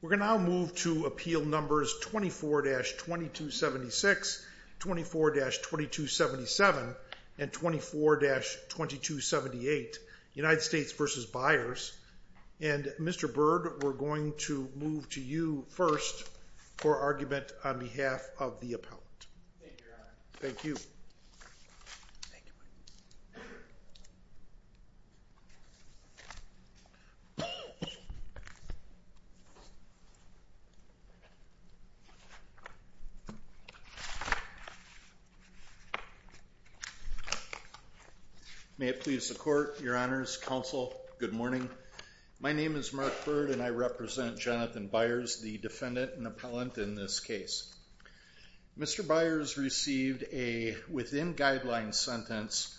We're going to move to appeal numbers 24-2276, 24-2277, and 24-2278, United States v. Byars. And Mr. Byrd, we're going to move to you first for argument on behalf of the appellant. Thank you. May it please the court, your honors, counsel, good morning. My name is Mark Byrd and I represent within guidelines sentence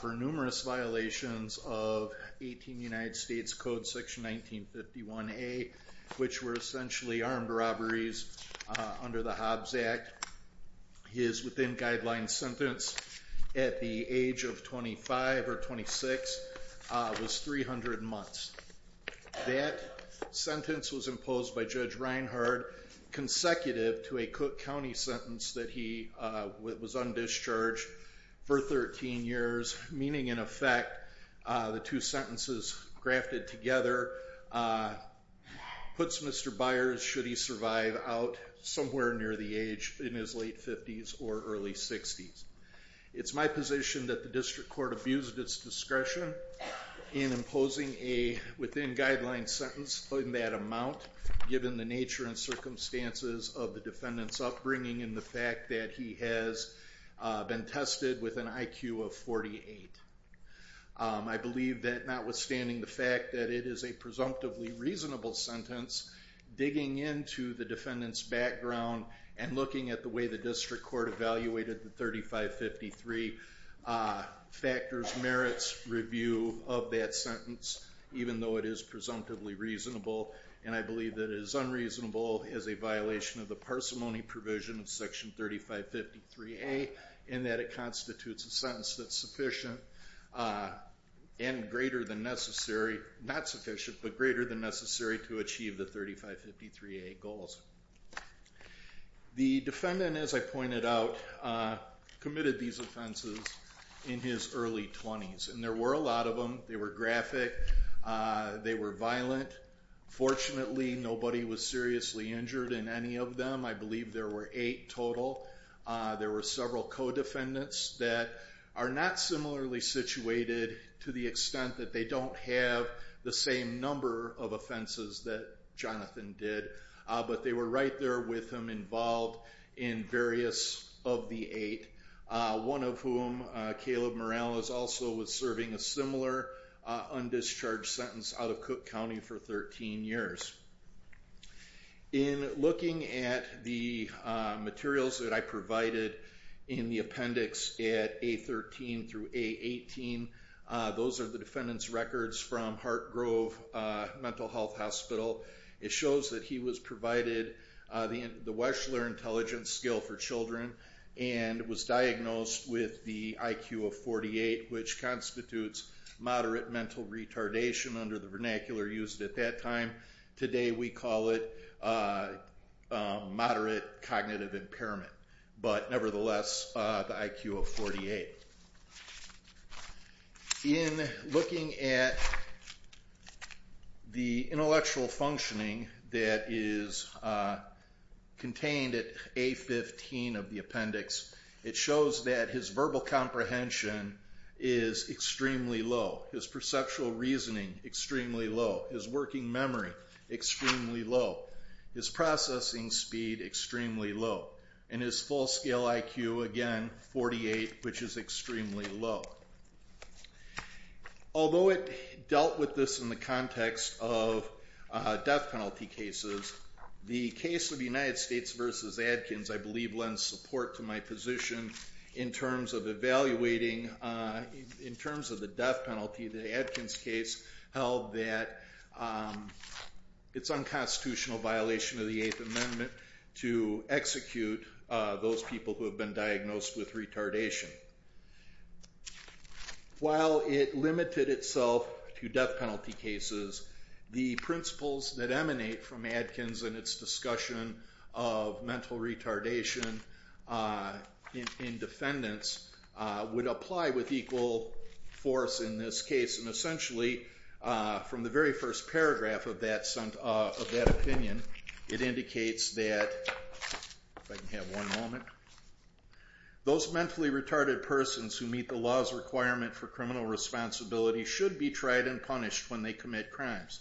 for numerous violations of 18 United States Code Section 1951A, which were essentially armed robberies under the Hobbs Act. His within guidelines sentence at the age of 25 or 26 was 300 months. That sentence was imposed by Judge Reinhardt consecutive to a Cook County sentence that he was on discharge for 13 years, meaning in effect the two sentences grafted together puts Mr. Byars, should he survive, out somewhere near the age in his late 50s or early 60s. It's my position that the district court abused its discretion in imposing a within guidelines sentence in that amount given the nature and circumstances of the defendant's upbringing and the fact that he has been tested with an IQ of 48. I believe that notwithstanding the fact that it is a presumptively reasonable sentence, digging into the defendant's background and looking at the way the district court evaluated the 3553 factors merits review of that sentence, even though it is presumptively reasonable and I believe that it is unreasonable as a violation of the parsimony provision of Section 3553A in that it constitutes a sentence that's sufficient and greater than necessary, not sufficient, but greater than necessary to achieve the 3553A goals. The defendant, as I pointed out, committed these offenses in his early 20s and there were a lot of them. They were graphic. They were violent. Fortunately, nobody was seriously injured in any of them. I believe there were eight total. There were several co-defendants that are not similarly situated to the extent that they don't have the same number of offenses that Jonathan did, but they were right there with him involved in various of the eight, one of whom, Caleb Morales, also was serving a similar undischarged sentence out of Cook County for 13 years. In looking at the materials that I provided in the appendix at A13 through A18, those are the defendant's records from Hartgrove Mental Health Hospital. It shows that he was provided the Weschler Intelligence skill for children and was diagnosed with the IQ of 48, which constitutes moderate mental retardation under the vernacular used at that time. Today we call it moderate cognitive impairment, but nevertheless, the IQ of 48. In looking at the intellectual functioning that is contained at A15 of the appendix, it shows that his verbal comprehension is extremely low. His perceptual reasoning, extremely low. His working memory, extremely low. His processing speed, extremely low. And his full scale IQ, again, 48, which is extremely low. Although it dealt with this in the context of death penalty cases, the case of United States v. Adkins, I believe, lends support to my position in terms of evaluating, in terms of the death penalty. The Adkins case held that it's unconstitutional violation of the Eighth Amendment to execute those people who have been diagnosed with retardation. While it limited itself to death penalty cases, the principles that emanate from Adkins and its discussion of mental retardation in defendants would apply with equal force in this case. And essentially, from the very first paragraph of that opinion, it indicates that, if I can have one moment, those mentally retarded persons who meet the law's requirement for criminal responsibility should be tried and punished when they commit crimes.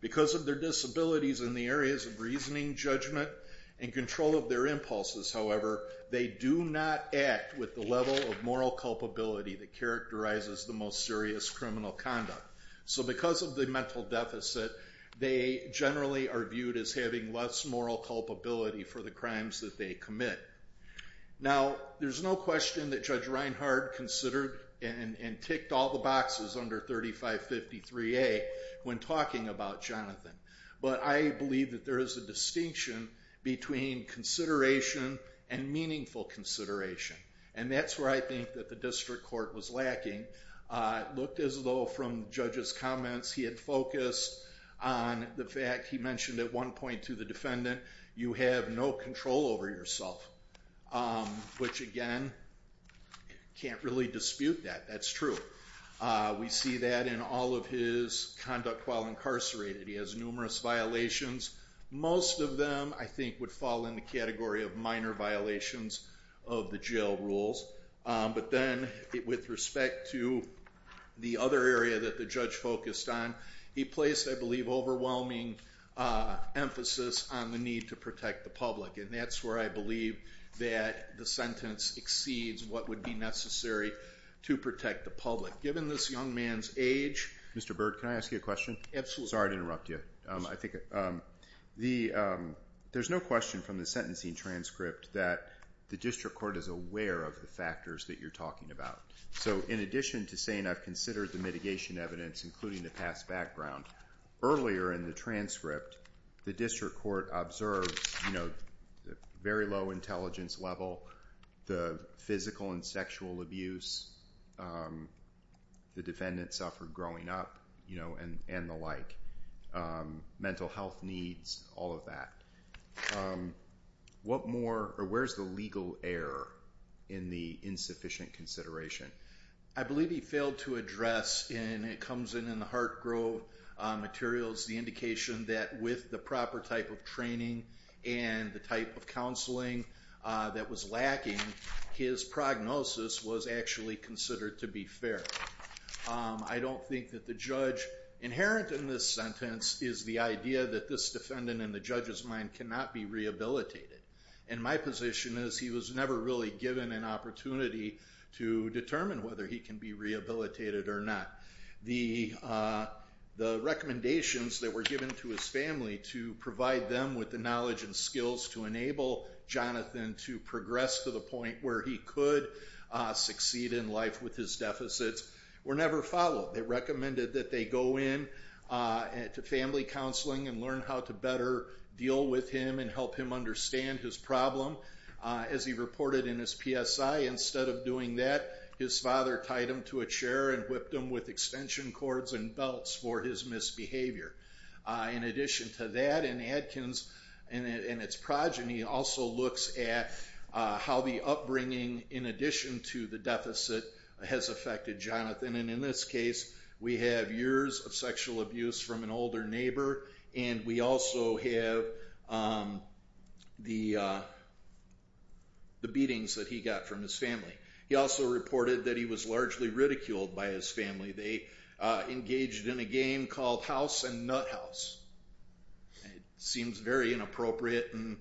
Because of their disabilities in the areas of reasoning, judgment, and control of their impulses, however, they do not act with the level of moral culpability that characterizes the most serious criminal conduct. So because of the mental deficit, they generally are viewed as having less moral culpability for the crimes that they commit. Now there's no question that Judge Reinhardt considered and ticked all the boxes under 3553A when talking about Jonathan. But I believe that there is a distinction between consideration and meaningful consideration. And that's where I think that the district court was lacking. It looked as though, from Judge's comments, he had focused on the fact he mentioned at one point to the defendant, you have no control over yourself. Which again, can't really dispute that. That's true. We see that in all of his conduct while incarcerated. He has numerous violations. Most of them, I think, would fall in the category of minor violations of the jail rules. But then, with respect to the other area that the judge focused on, he placed, I believe, overwhelming emphasis on the need to protect the public. And that's where I believe that the sentence exceeds what would be necessary to protect the public. Given this young man's age... Mr. Byrd, can I ask you a question? Absolutely. Sorry to interrupt you. There's no question from the sentencing transcript that the district court is aware of the factors that you're talking about. So in addition to saying I've considered the mitigation evidence, including the past background, earlier in the transcript, the district court observes very low intelligence level, the physical and sexual abuse the defendant suffered growing up, and the like. Mental health needs, all of that. What more, or where's the legal error in the insufficient consideration? I believe he failed to address, and it comes in in the Hartgrove materials, the indication that with the proper type of training and the type of counseling that was lacking, his prognosis was actually considered to be fair. I don't think that the judge inherent in this sentence is the idea that this defendant, in the judge's mind, cannot be rehabilitated. And my position is he was never really given an opportunity to determine whether he can be rehabilitated or not. The recommendations that were given to his family to provide them with the knowledge and skills to enable Jonathan to progress to the point where he could succeed in life with his deficits were never followed. They recommended that they go in to family counseling and learn how to better deal with him and help him understand his problem. As he reported in his PSI, instead of doing that, his father tied him to a chair and whipped him with extension cords and belts for his misbehavior. In addition to that, in Adkins and its progeny, also looks at how the upbringing, in addition to the deficit, has affected Jonathan. In this case, we have years of sexual abuse from an older neighbor and we also have the beatings that he got from his family. He also reported that he was largely ridiculed by his family. They engaged in a game called House and Nuthouse. It seems very inappropriate and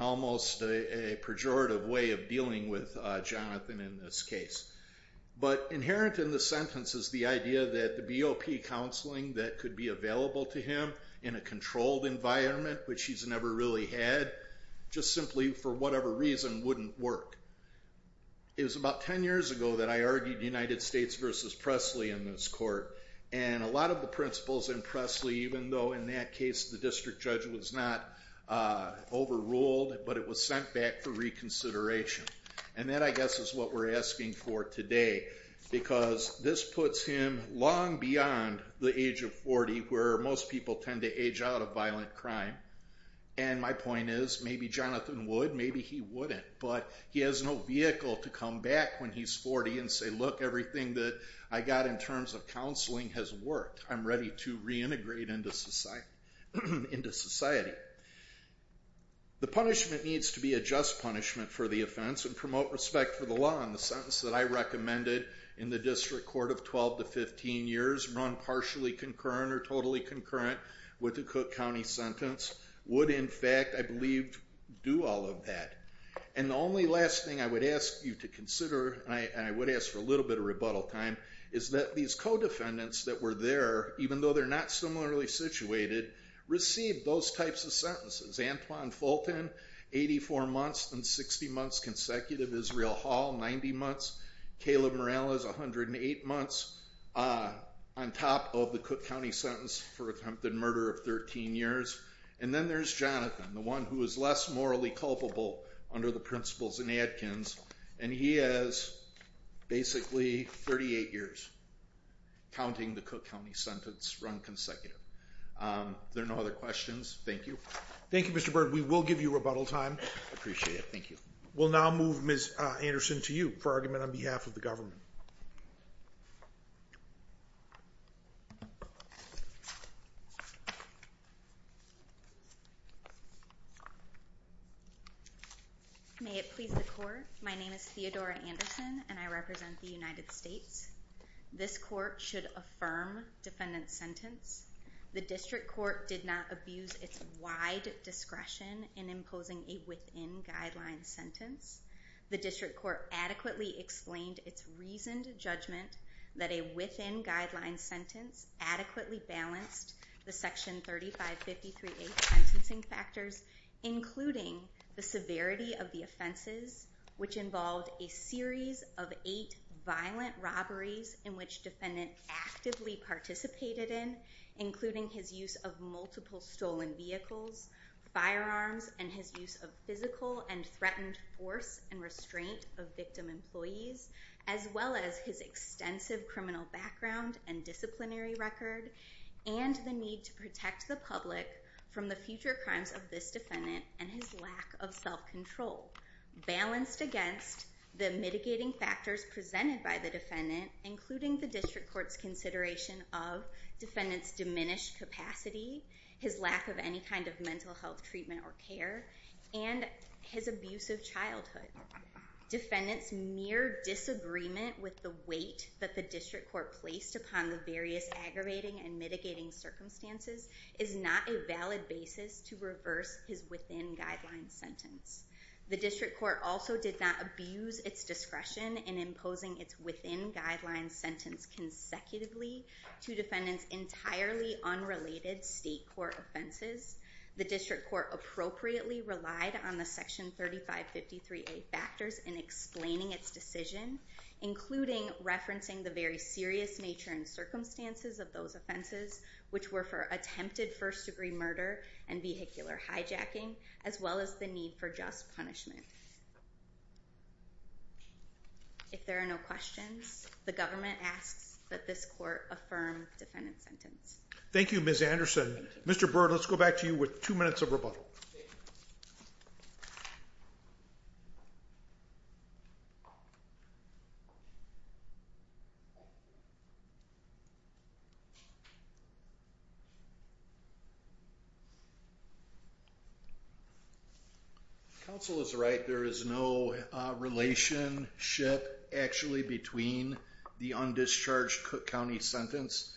almost a pejorative way of dealing with Jonathan in this case. But inherent in the sentence is the idea that the BOP counseling that could be available to him in a controlled environment, which he's never really had, just simply for whatever reason wouldn't work. It was about 10 years ago that I argued United States versus Presley in this court. A lot of the principles in Presley, even though in that case the district judge was not overruled, but it was sent back for reconsideration. That I guess is what we're asking for today because this puts him long beyond the age of 40, where most people tend to age out of violent crime. And my point is, maybe Jonathan would, maybe he wouldn't, but he has no vehicle to come back when he's 40 and say, look, everything that I got in terms of counseling has worked. I'm ready to reintegrate into society. The punishment needs to be a just punishment for the offense and promote respect for the law. And the sentence that I recommended in the district court of 12 to 15 years, run partially concurrent or totally concurrent with the Cook County sentence, would in fact, I believe, do all of that. And the only last thing I would ask you to consider, and I would ask for a little bit of rebuttal time, is that these co-defendants that were there, even though they're not similarly situated, received those types of sentences. Antoine Fulton, 84 months and 60 months consecutive. Israel Hall, 90 months. Caleb Morales, 108 months on top of the Cook County sentence for attempted murder of 13 years. And then there's Jonathan, the one who is less morally culpable under the principles in Adkins, and he has basically 38 years counting the Cook County sentence run consecutive. There are no other questions. Thank you. Thank you, Mr. Byrd. We will give you rebuttal time. Appreciate it. Thank you. We'll now move Ms. Anderson to you for argument on behalf of the government. May it please the court. My name is Theodora Anderson and I represent the United States. This court should affirm defendant's sentence. The district court did not abuse its wide discretion in imposing a within-guideline sentence. The district court adequately explained its reasoned judgment that a within-guideline sentence adequately balanced the Section 3553A sentencing factors, including the severity of the offenses, which involved a series of violent robberies in which defendant actively participated in, including his use of multiple stolen vehicles, firearms, and his use of physical and threatened force and restraint of victim employees, as well as his extensive criminal background and disciplinary record, and the need to protect the public from the future crimes of this defendant and his lack of self-control, balanced against the mitigating factors presented by the defendant, including the district court's consideration of defendant's diminished capacity, his lack of any kind of mental health treatment or care, and his abusive childhood. Defendant's mere disagreement with the weight that the district court placed upon the various aggravating and mitigating circumstances is not a valid basis to reverse his within-guideline sentence. The district court also did not abuse its discretion in imposing its within-guideline sentence consecutively to defendants entirely unrelated state court offenses. The district court appropriately relied on the Section 3553A factors in explaining its decision, including referencing the very serious nature and circumstances of those offenses, which were for attempted first-degree murder and vehicular hijacking, as well as the need for just punishment. If there are no questions, the government asks that this court affirm defendant's sentence. Thank you, Ms. Anderson. Mr. Byrd, let's go back to you with two minutes of rebuttal. Counsel is right. There is no relationship, actually, between the undischarged county sentence,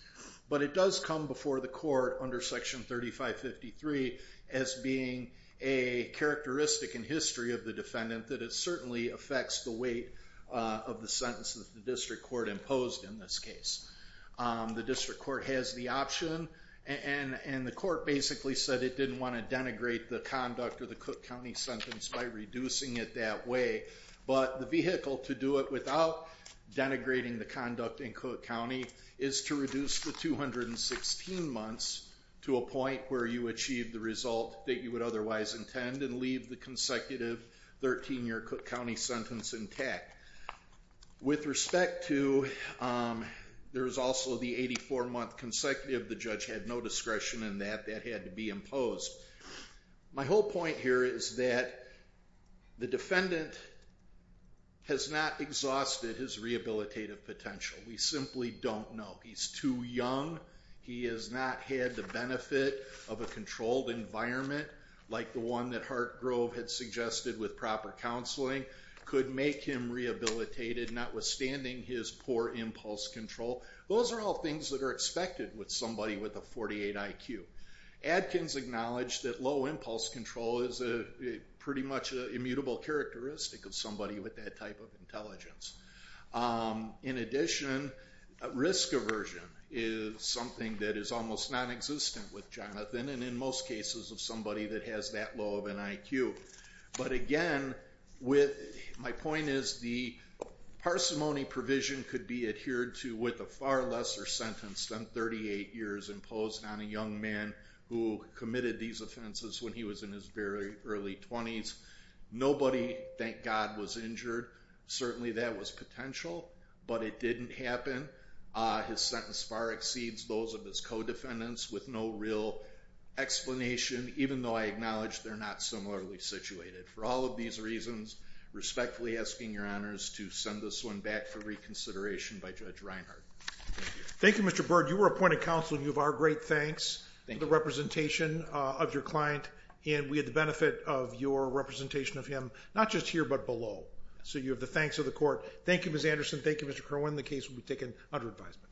but it does come before the court under Section 3553 as being a characteristic in history of the defendant that it certainly affects the weight of the sentence that the district court imposed in this case. The district court has the option, and the court basically said it didn't want to denigrate the conduct of the Cook County sentence by reducing it that way, but the vehicle to do it without denigrating the conduct in Cook County is to reduce the 216 months to a point where you achieve the result that you would otherwise intend and leave the consecutive 13-year Cook County sentence intact. With respect to, there's also the 84-month consecutive, the judge had no discretion in that. That had to be imposed. My whole point here is that the defendant has not exhausted his rehabilitative potential. We simply don't know. He's too young. He has not had the benefit of a controlled environment like the one that Hartgrove had suggested with proper counseling could make him rehabilitated, notwithstanding his poor impulse control. Those are all things that are expected with somebody with a 48 IQ. Adkins acknowledged that low impulse control is pretty much an immutable characteristic of somebody with that type of intelligence. In addition, risk aversion is something that is almost non-existent with Jonathan and in most cases of somebody that has that low of an IQ. But again, my point is the parsimony provision could be adhered to with a far lesser sentence than 38 years imposed on a young man who committed these offenses when he was in his very early 20s. Nobody, thank God, was injured. Certainly that was potential, but it didn't happen. His sentence far exceeds those of his co-defendants with no real explanation, even though I acknowledge they're not similarly situated. For all of these reasons, respectfully asking your honors to send this one back for reconsideration by Judge Reinhardt. Thank you. Thank you, Mr. Byrd. You were appointed counsel and you have our great thanks. Thank you. The representation of your client and we had the So you have the thanks of the court. Thank you, Miss Anderson. Thank you, Mr. Kerwin. The case will be taken under advisement.